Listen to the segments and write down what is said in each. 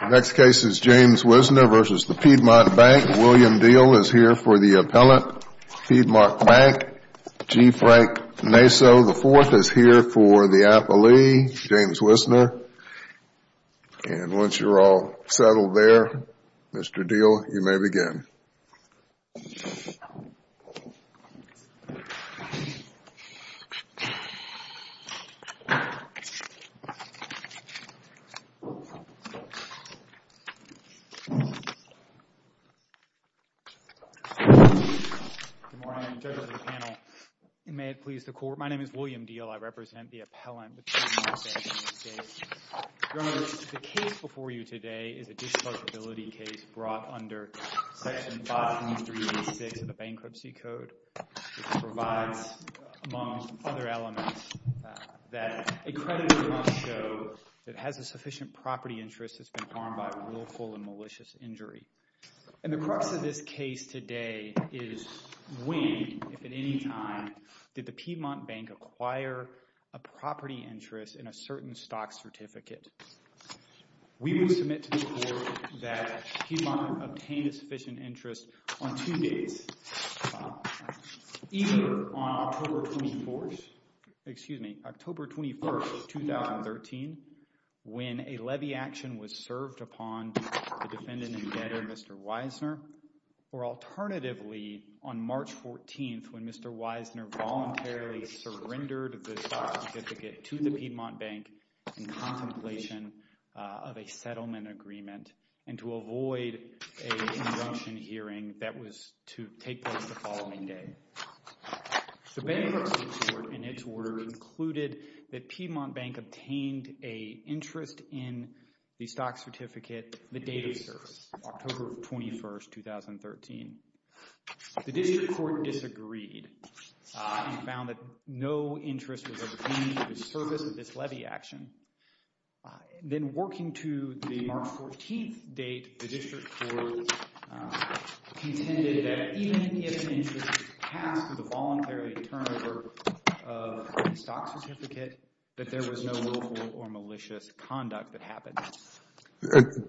The next case is James Wisner v. Piedmont Bank. William Diehl is here for the appellant, Piedmont Bank. G. Frank Naso IV is here for the appellee, James Wisner. And once you're all settled there, Mr. Diehl, you may begin. Good morning, judges of the panel, and may it please the court, my name is William Diehl. I represent the appellant, Piedmont Bank. Your Honor, the case before you today is a disposability case brought under Section 5386 of the Bankruptcy Code, which provides, among other elements, that a creditor must show that has a sufficient property interest has been harmed by willful and malicious injury. And the crux of this case today is when, if at any time, did the Piedmont Bank acquire a property interest in a certain stock certificate. We would submit to the court that Piedmont obtained a sufficient interest on two days. Either on October 24th, 2013, when a levy action was served upon the defendant and debtor, Mr. Wisner, or alternatively on March 14th, when Mr. Wisner voluntarily surrendered the stock certificate to the Piedmont Bank in contemplation of a settlement agreement and to avoid a conjunction hearing that was to take place the following day. The Bankruptcy Court, in its order, concluded that Piedmont Bank obtained an interest in the stock certificate the date of service, October 21st, 2013. The District Court disagreed and found that no interest was obtained for the service of this levy action. Then working to the March 14th date, the District Court contended that even if an interest was passed with a voluntary turnover of the stock certificate, that there was no willful or malicious conduct that happened.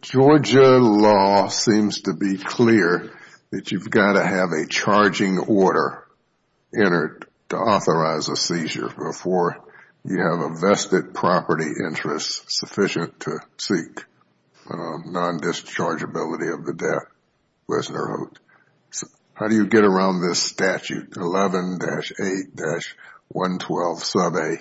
Georgia law seems to be clear that you've got to have a charging order entered to authorize a seizure before you have a vested property interest sufficient to seek non-dischargeability of the debt, Wisner wrote. How do you get around this statute, 11-8-112 sub a?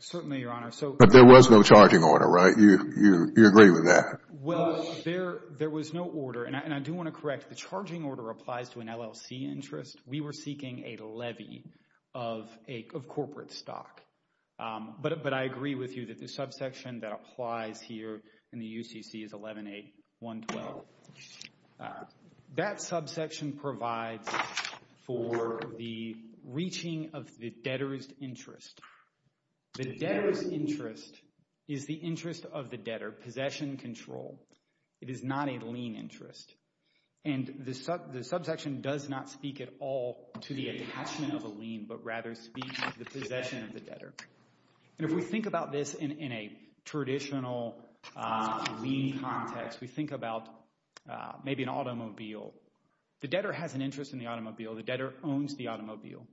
Certainly, Your Honor. But there was no charging order, right? You agree with that? Well, there was no order, and I do want to correct. The charging order applies to an LLC interest. We were seeking a levy of corporate stock. But I agree with you that the subsection that applies here in the UCC is 11-8-112. That subsection provides for the reaching of the debtor's interest. The debtor's interest is the interest of the debtor, possession control. It is not a lien interest. And the subsection does not speak at all to the attachment of a lien, but rather speaks to the possession of the debtor. And if we think about this in a traditional lien context, we think about maybe an automobile. The debtor has an interest in the automobile. The debtor owns the automobile.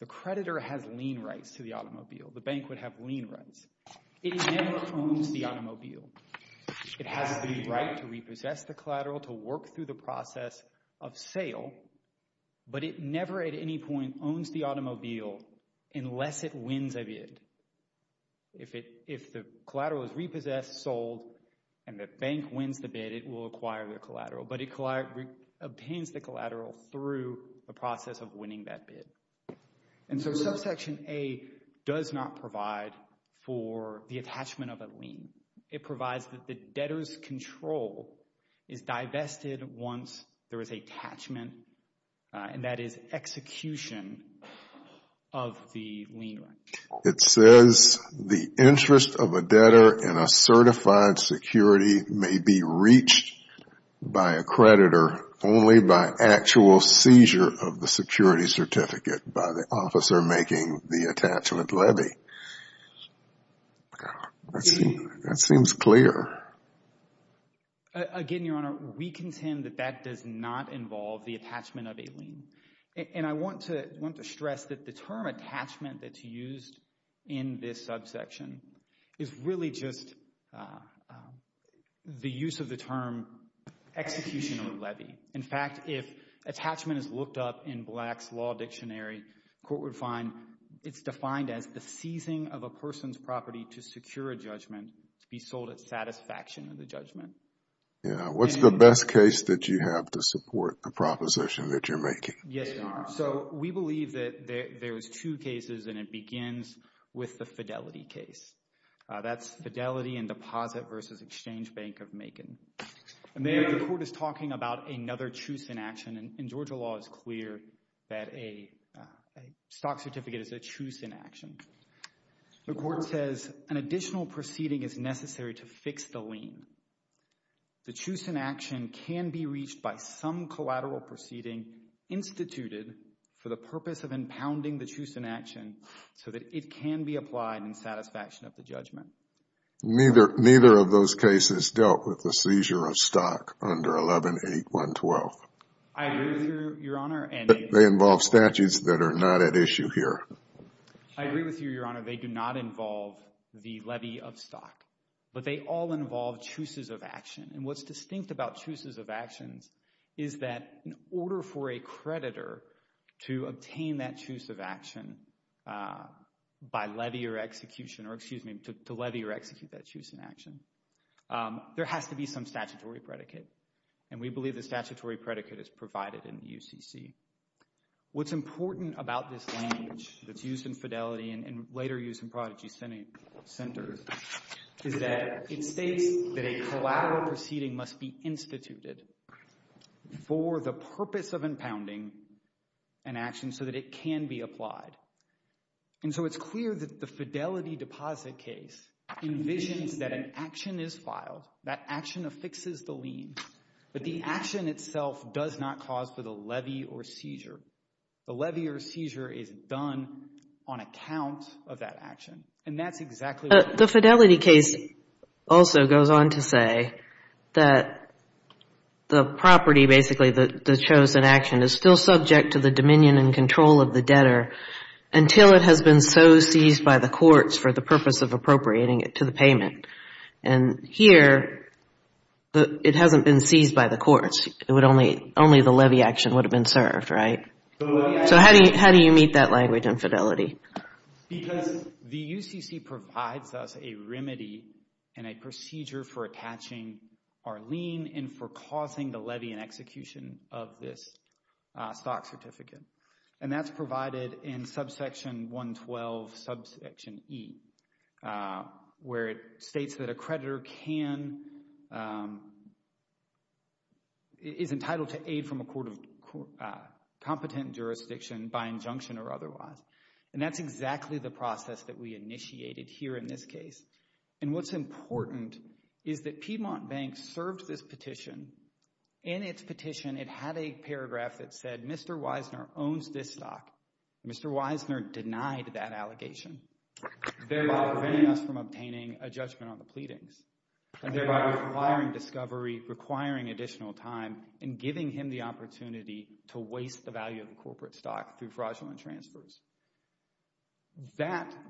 The creditor has lien rights to the automobile. The bank would have lien rights. It never owns the automobile. It has the right to repossess the collateral, to work through the process of sale. But it never at any point owns the automobile unless it wins a bid. If the collateral is repossessed, sold, and the bank wins the bid, it will acquire the collateral. But it obtains the collateral through the process of winning that bid. And so subsection A does not provide for the attachment of a lien. It provides that the debtor's control is divested once there is an attachment, and that is execution of the lien. It says the interest of a debtor in a certified security may be reached by a creditor only by actual seizure of the security certificate by the officer making the attachment levy. That seems clear. Again, Your Honor, we contend that that does not involve the attachment of a lien. And I want to stress that the term attachment that's used in this subsection is really just the use of the term execution of a levy. In fact, if attachment is looked up in Black's Law Dictionary, the court would find it's defined as the seizing of a person's property to secure a judgment to be sold at satisfaction of the judgment. What's the best case that you have to support the proposition that you're making? Yes, Your Honor. So we believe that there's two cases, and it begins with the Fidelity case. That's Fidelity and Deposit versus Exchange Bank of Macon. And there the court is talking about another choose in action, and Georgia law is clear that a stock certificate is a choose in action. The court says an additional proceeding is necessary to fix the lien. The choose in action can be reached by some collateral proceeding instituted for the purpose of impounding the choose in action so that it can be applied in satisfaction of the judgment. Neither of those cases dealt with the seizure of stock under 11-812. I agree with you, Your Honor. They involve statutes that are not at issue here. I agree with you, Your Honor. They do not involve the levy of stock, but they all involve chooses of action. And what's distinct about chooses of actions is that in order for a creditor to obtain that choose of action by levy or execution or, excuse me, to levy or execute that choose in action, there has to be some statutory predicate. And we believe the statutory predicate is provided in the UCC. What's important about this language that's used in fidelity and later used in prodigy centers is that it states that a collateral proceeding must be instituted for the purpose of impounding an action so that it can be applied. And so it's clear that the fidelity deposit case envisions that an action is filed, that action affixes the lien. But the action itself does not cause for the levy or seizure. The levy or seizure is done on account of that action. And that's exactly what we're talking about. The fidelity case also goes on to say that the property, basically the chose in action, is still subject to the dominion and control of the debtor until it has been so seized by the courts for the purpose of appropriating it to the payment. And here, it hasn't been seized by the courts. Only the levy action would have been served, right? So how do you meet that language in fidelity? Because the UCC provides us a remedy and a procedure for attaching our lien and for causing the levy and execution of this stock certificate. And that's provided in subsection 112, subsection E, where it states that a creditor is entitled to aid from a competent jurisdiction by injunction or otherwise. And that's exactly the process that we initiated here in this case. And what's important is that Piedmont Bank served this petition. In its petition, it had a paragraph that said, Mr. Wiesner owns this stock. Mr. Wiesner denied that allegation, thereby preventing us from obtaining a judgment on the pleadings, and thereby requiring discovery, requiring additional time, and giving him the opportunity to waste the value of the corporate stock through fraudulent transfers.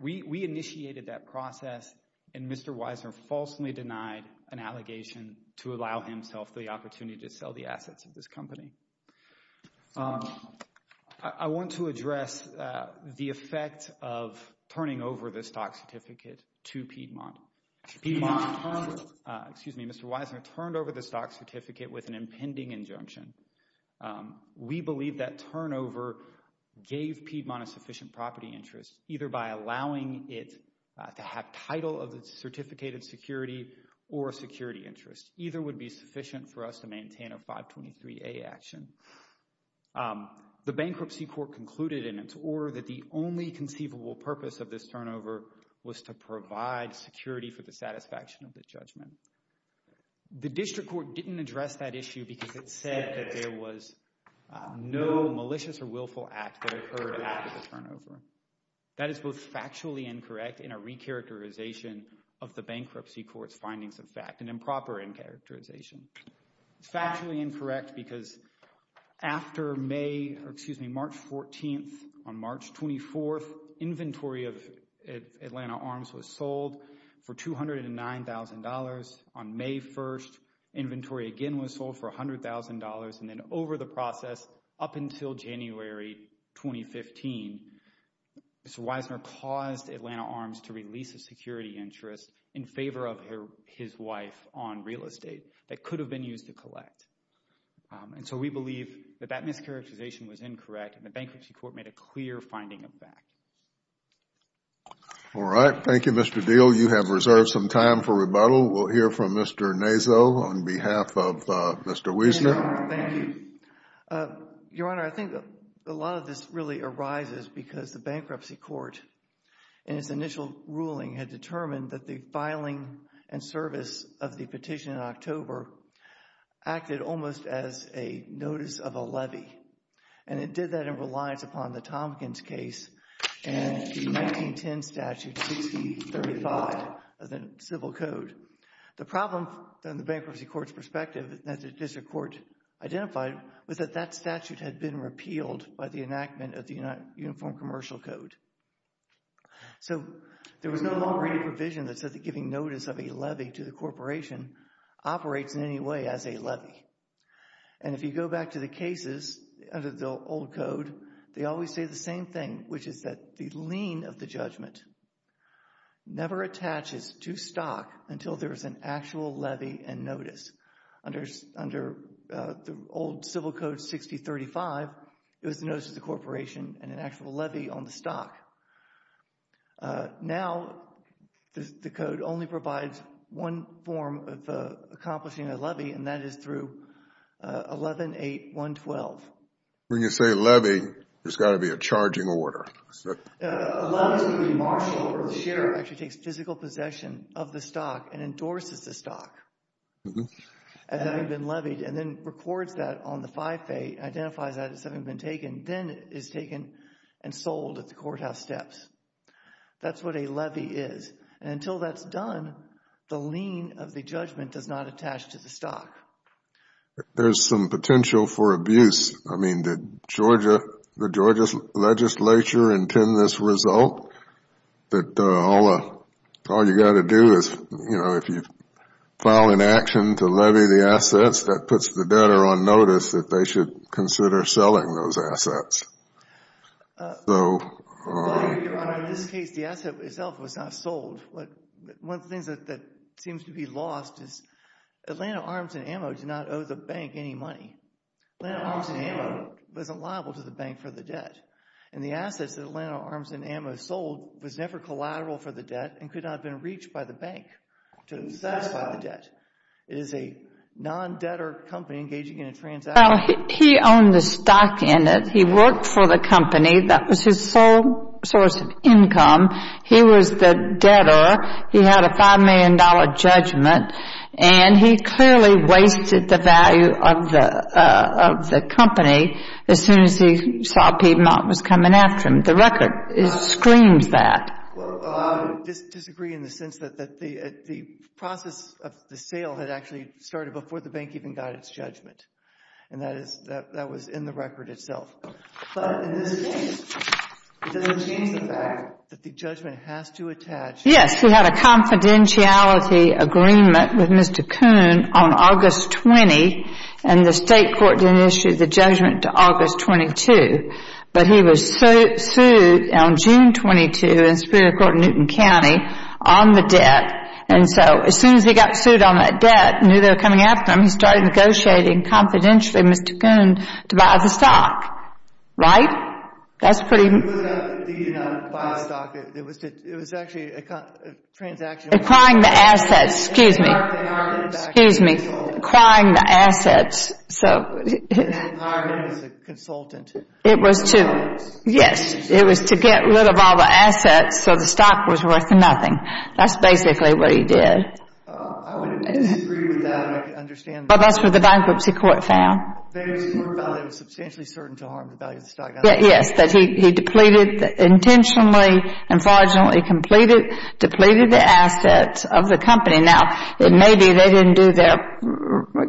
We initiated that process, and Mr. Wiesner falsely denied an allegation to allow himself the opportunity to sell the assets of this company. I want to address the effect of turning over the stock certificate to Piedmont. Mr. Wiesner turned over the stock certificate with an impending injunction. We believe that turnover gave Piedmont a sufficient property interest, either by allowing it to have title of the certificated security or a security interest. Either would be sufficient for us to maintain a 523A action. The bankruptcy court concluded in its order that the only conceivable purpose of this turnover was to provide security for the satisfaction of the judgment. The district court didn't address that issue because it said that there was no malicious or willful act that occurred after the turnover. That is both factually incorrect and a re-characterization of the bankruptcy court's findings of fact, an improper re-characterization. It's factually incorrect because after March 14th, on March 24th, inventory of Atlanta Arms was sold for $209,000. On May 1st, inventory again was sold for $100,000. Then over the process up until January 2015, Mr. Wiesner caused Atlanta Arms to release a security interest in favor of his wife on real estate that could have been used to collect. We believe that that mischaracterization was incorrect and the bankruptcy court made a clear finding of fact. All right. Thank you, Mr. Deal. We'll hear from Mr. Naso on behalf of Mr. Wiesner. Thank you. Your Honor, I think a lot of this really arises because the bankruptcy court in its initial ruling had determined that the filing and service of the petition in October acted almost as a notice of a levy. It did that in reliance upon the Tompkins case and the 1910 statute 6035 of the Civil Code. The problem from the bankruptcy court's perspective that the district court identified was that that statute had been repealed by the enactment of the Uniform Commercial Code. There was no longer any provision that said that giving notice of a levy to the corporation operates in any way as a levy. And if you go back to the cases under the old code, they always say the same thing, which is that the lien of the judgment never attaches to stock until there is an actual levy and notice. Under the old Civil Code 6035, it was a notice to the corporation and an actual levy on the stock. Now, the code only provides one form of accomplishing a levy, and that is through 11-8-112. When you say levy, there's got to be a charging order. A levy is when the marshal or the sheriff actually takes physical possession of the stock and endorses the stock as having been levied, and then records that on the FIFA, identifies that as having been taken, then is taken and sold at the courthouse steps. That's what a levy is. And until that's done, the lien of the judgment does not attach to the stock. There's some potential for abuse. I mean, did Georgia, the Georgia legislature intend this result that all you've got to do is, you know, if you file an action to levy the assets, that puts the debtor on notice that they should consider selling those assets? So... Your Honor, in this case, the asset itself was not sold. One of the things that seems to be lost is Atlanta Arms and Ammo did not owe the bank any money. Atlanta Arms and Ammo wasn't liable to the bank for the debt. And the assets that Atlanta Arms and Ammo sold was never collateral for the debt and could not have been reached by the bank to satisfy the debt. It is a non-debtor company engaging in a transaction. Well, he owned the stock in it. He worked for the company. That was his sole source of income. He was the debtor. He had a $5 million judgment. And he clearly wasted the value of the company as soon as he saw Piedmont was coming after him. The record screams that. Well, I would disagree in the sense that the process of the sale had actually started before the bank even got its judgment. And that was in the record itself. But in this case, it doesn't change the fact that the judgment has to attach... ...on August 20. And the state court didn't issue the judgment to August 22. But he was sued on June 22 in the Supreme Court of Newton County on the debt. And so as soon as he got sued on that debt, knew they were coming after him, he started negotiating confidentially with Mr. Kuhn to buy the stock. Right? That's pretty... It was actually a transaction... Acquiring the assets. Excuse me. Excuse me. Acquiring the assets. So... It was to... Yes. It was to get rid of all the assets so the stock was worth nothing. That's basically what he did. That's what the bankruptcy court found. The bankruptcy court found it was substantially certain to harm the value of the stock. Yes. That he depleted intentionally and fraudulently completed, depleted the assets of the company. Now, it may be they didn't do their,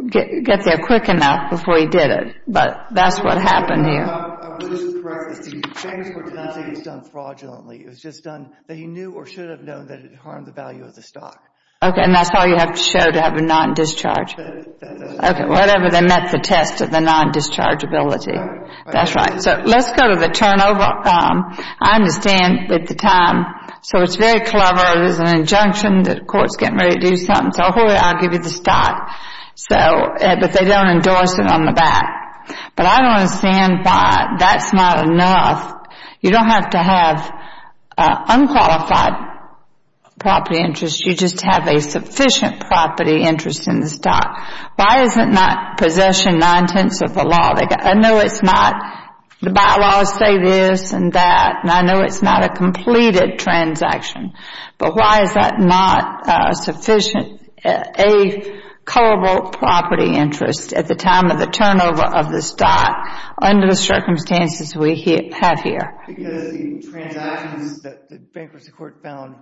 get there quick enough before he did it. But that's what happened here. I believe this is correct. The bankruptcy court didn't say it was done fraudulently. It was just done that he knew or should have known that it harmed the value of the stock. Okay. And that's how you have to show to have a non-discharge. That does. Okay. Whatever they met the test of the non-discharge ability. That's right. So, let's go to the turnover. I understand at the time, so it's very clever. It was an injunction that the court's getting ready to do something. So, I'll give you the stock. So, but they don't endorse it on the back. But I don't understand why that's not enough. You don't have to have unqualified property interest. You just have a sufficient property interest in the stock. Why is it not possession nine-tenths of the law? I know it's not. The bylaws say this and that. And I know it's not a completed transaction. But why is that not sufficient, a culpable property interest at the time of the turnover of the stock under the circumstances we have here? Because the transactions that the bankruptcy court found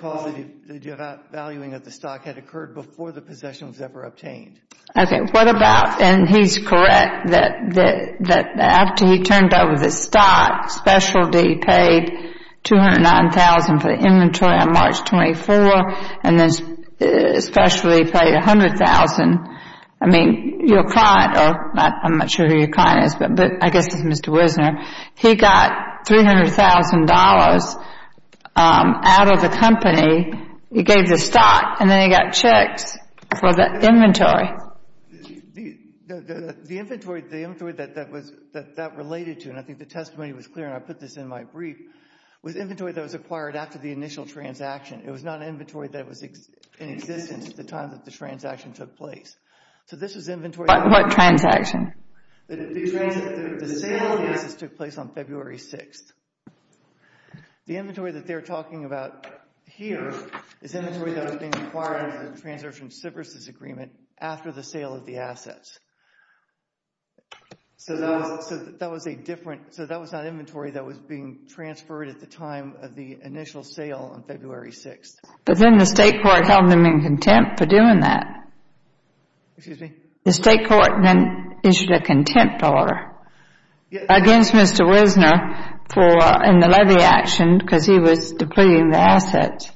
caused the devaluing of the stock had occurred before the possession was ever obtained. Okay. What about, and he's correct, that after he turned over the stock, specialty paid $209,000 for the inventory on March 24, and then specialty paid $100,000. I mean, your client, or I'm not sure who your client is, but I guess it's Mr. Wisner. He got $300,000 out of the company. He gave the stock, and then he got checks for the inventory. The inventory that that related to, and I think the testimony was clear, and I put this in my brief, was inventory that was acquired after the initial transaction. It was not inventory that was in existence at the time that the transaction took place. So this was inventory. What transaction? The sale of the assets took place on February 6th. The inventory that they're talking about here is inventory that was being acquired under the Transactions and Services Agreement after the sale of the assets. So that was a different, so that was not inventory that was being transferred at the time of the initial sale on February 6th. But then the state court held them in contempt for doing that. Excuse me? The state court then issued a contempt order against Mr. Wisner for, in the levy action, because he was depleting the assets.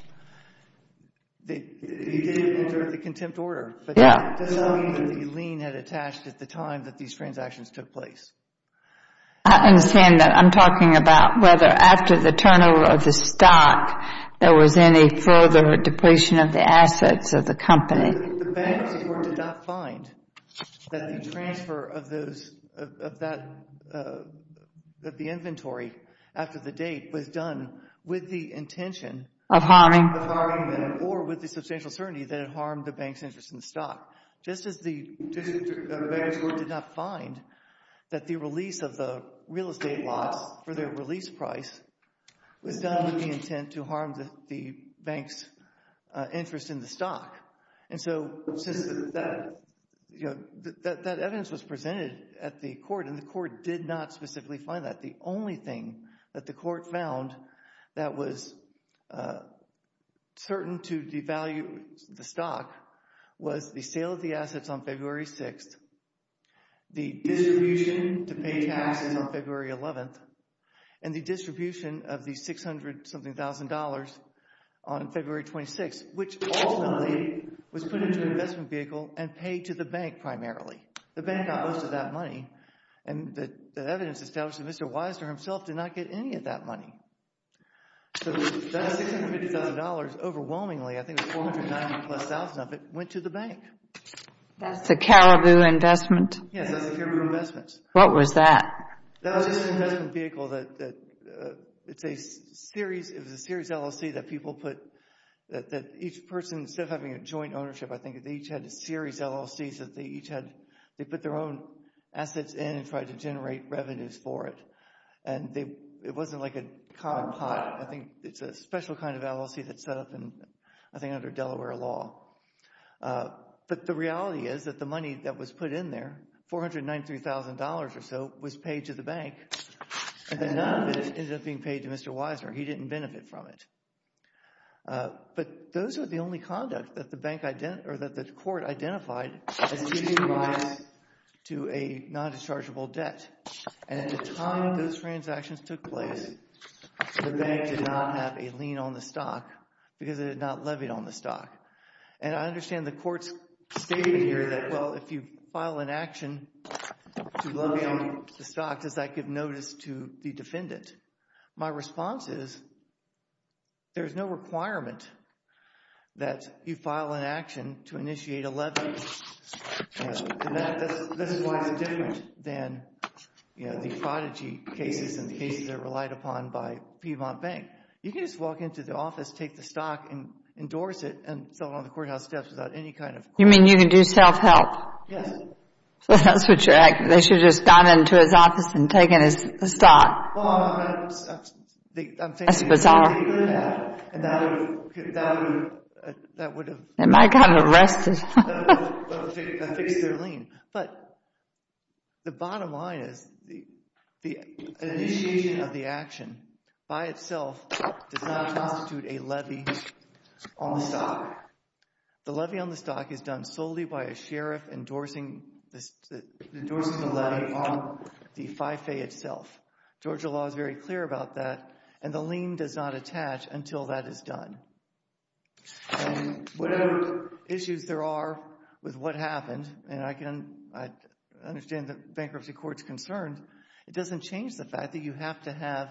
You did enter the contempt order. Yeah. But that doesn't mean that the lien had attached at the time that these transactions took place. I understand that. I'm talking about whether after the turnover of the stock, there was any further depletion of the assets of the company. The bank's court did not find that the transfer of the inventory after the date was done with the intention of harming them or with the substantial certainty that it harmed the bank's interest in the stock, just as the bank's court did not find that the release of the real estate lots for their release price was done with the intent to harm the bank's interest in the stock. And so that evidence was presented at the court, and the court did not specifically find that. The only thing that the court found that was certain to devalue the stock was the sale of the assets on February 6th, the distribution to pay taxes on February 11th, and the distribution of the 600-something thousand dollars on February 26th, which ultimately was put into an investment vehicle and paid to the bank primarily. The bank got most of that money, and the evidence established that Mr. Weiser himself did not get any of that money. So that $600,000 overwhelmingly, I think it was 490 plus thousand of it, went to the bank. That's the Caribou investment? Yes, that's the Caribou investments. What was that? That was an investment vehicle that it's a series, it was a series LLC that people put, that each person, instead of having a joint ownership, I think they each had a series LLC, so they each had, they put their own assets in and tried to generate revenues for it. And it wasn't like a cotton pot. I think it's a special kind of LLC that's set up, I think, under Delaware law. But the reality is that the money that was put in there, $493,000 or so, was paid to the bank, and then none of it ended up being paid to Mr. Weiser. He didn't benefit from it. But those are the only conduct that the court identified as leading to a non-dischargeable debt. And at the time those transactions took place, the bank did not have a lien on the stock because it had not levied on the stock. And I understand the courts stated here that, well, if you file an action to levy on the stock, does that give notice to the defendant? My response is there's no requirement that you file an action to initiate a levy. And this is why it's different than the prodigy cases and the cases that are relied upon by Piedmont Bank. You can just walk into the office, take the stock, and endorse it, and sell it on the courthouse steps without any kind of... You mean you can do self-help? Yes. So that's what you're asking. They should have just gone into his office and taken his stock. Well, I'm thinking... That's bizarre. They would have. And that would have... And I got arrested. That would have fixed their lien. But the bottom line is the initiation of the action by itself does not constitute a levy on the stock. The levy on the stock is done solely by a sheriff endorsing the levy on the FIFA itself. Georgia law is very clear about that. And the lien does not attach until that is done. And whatever issues there are with what happened, and I understand the bankruptcy court's concern, it doesn't change the fact that you have to have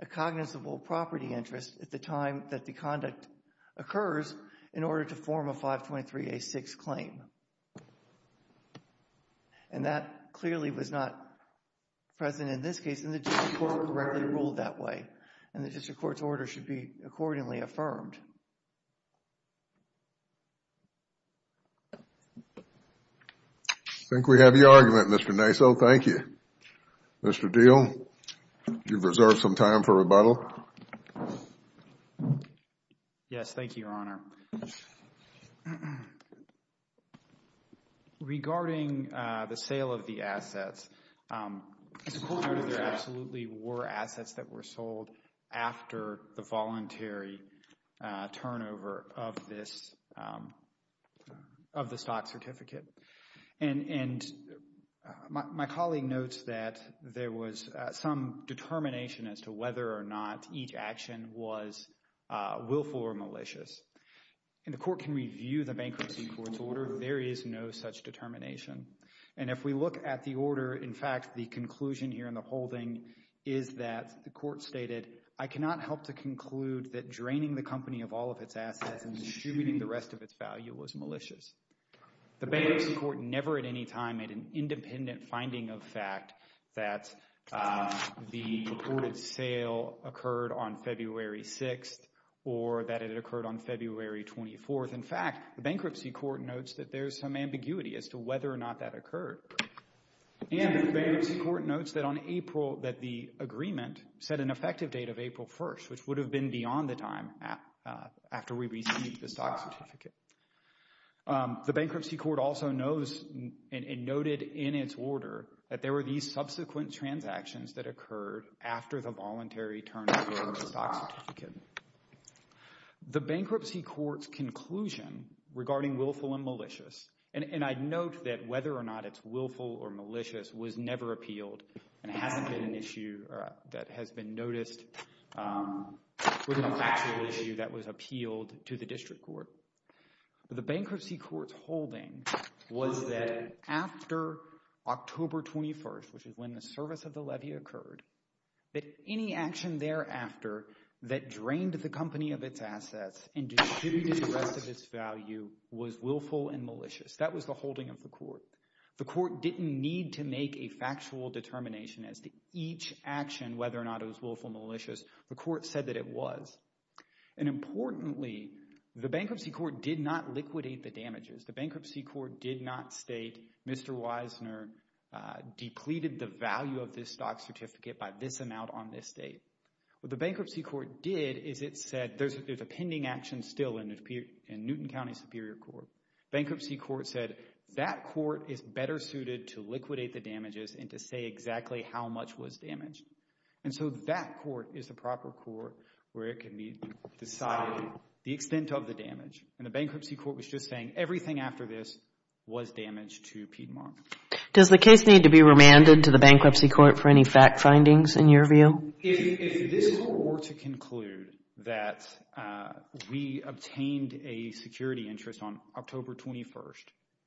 a cognizable property interest at the time that the conduct occurs in order to form a 523A6 claim. And that clearly was not present in this case, and the district court rarely ruled that way. And the district court's order should be accordingly affirmed. I think we have your argument, Mr. Naiso. Thank you. Mr. Diehl, you've reserved some time for rebuttal. Yes, thank you, Your Honor. Regarding the sale of the assets, the court noted there absolutely were assets that were sold after the voluntary turnover of the stock certificate. And my colleague notes that there was some determination as to whether or not each action was willful or malicious. And the court can review the bankruptcy court's order. There is no such determination. And if we look at the order, in fact, the conclusion here in the holding is that the court stated, I cannot help to conclude that draining the company of all of its assets and distributing the rest of its value was malicious. The bankruptcy court never at any time made an independent finding of fact that the reported sale occurred on February 6th or that it occurred on February 24th. In fact, the bankruptcy court notes that there is some ambiguity as to whether or not that occurred. And the bankruptcy court notes that on April, that the agreement set an effective date of April 1st, which would have been beyond the time after we received the stock certificate. The bankruptcy court also knows and noted in its order that there were these subsequent transactions that occurred after the voluntary turnover of the stock certificate. The bankruptcy court's conclusion regarding willful and malicious, and I note that whether or not it's willful or malicious was never appealed and hasn't been an issue that has been noticed with an factual issue that was appealed to the district court. The bankruptcy court's holding was that after October 21st, which is when the service of the levy occurred, that any action thereafter that drained the company of its assets and distributed the rest of its value was willful and malicious. That was the holding of the court. The court didn't need to make a factual determination as to each action, whether or not it was willful or malicious. The court said that it was. And importantly, the bankruptcy court did not liquidate the damages. The bankruptcy court did not state Mr. Wisner depleted the value of this stock certificate by this amount on this date. What the bankruptcy court did is it said there's a pending action still in Newton County Superior Court. Bankruptcy court said that court is better suited to liquidate the damages and to say exactly how much was damaged. And so that court is the proper court where it can be decided the extent of the damage. And the bankruptcy court was just saying everything after this was damaged to Piedmont. Does the case need to be remanded to the bankruptcy court for any fact findings in your view? If this were to conclude that we obtained a security interest on October 21st,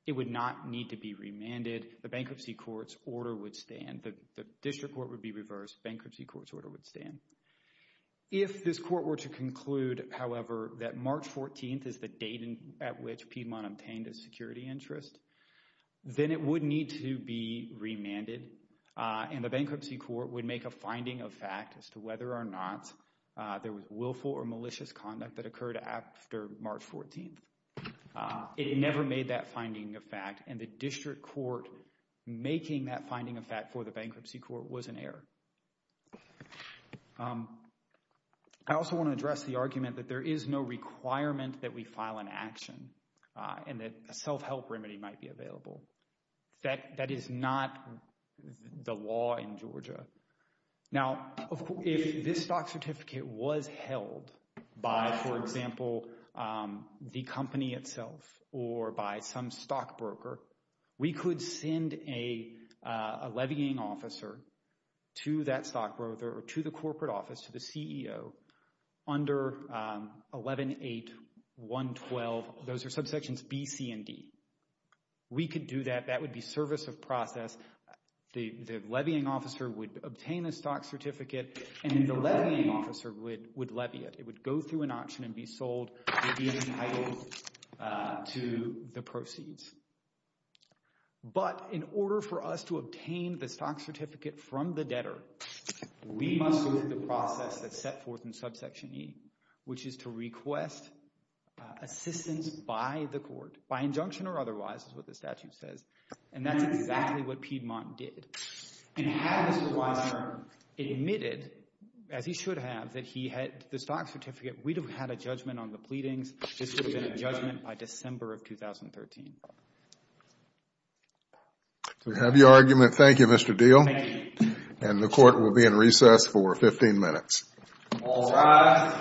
it would not need to be remanded. The bankruptcy court's order would stand. The district court would be reversed. Bankruptcy court's order would stand. If this court were to conclude, however, that March 14th is the date at which Piedmont obtained a security interest, then it would need to be remanded. And the bankruptcy court would make a finding of fact as to whether or not there was willful or malicious conduct that occurred after March 14th. It never made that finding of fact. And the district court making that finding of fact for the bankruptcy court was an error. I also want to address the argument that there is no requirement that we file an action and that a self-help remedy might be available. Now, if this stock certificate was held by, for example, the company itself or by some stockbroker, we could send a levying officer to that stockbroker or to the corporate office, to the CEO, under 11.8.112. Those are subsections B, C, and D. We could do that. That would be service of process. The levying officer would obtain a stock certificate, and then the levying officer would levy it. It would go through an auction and be sold and be entitled to the proceeds. But in order for us to obtain the stock certificate from the debtor, we must go through the process that's set forth in subsection E, which is to request assistance by the court, by injunction or otherwise is what the statute says. And that's exactly what Piedmont did. And had Mr. Weisner admitted, as he should have, that he had the stock certificate, we'd have had a judgment on the pleadings. This would have been a judgment by December of 2013. We have your argument. Thank you, Mr. Diehl. Thank you. And the court will be in recess for 15 minutes. All rise.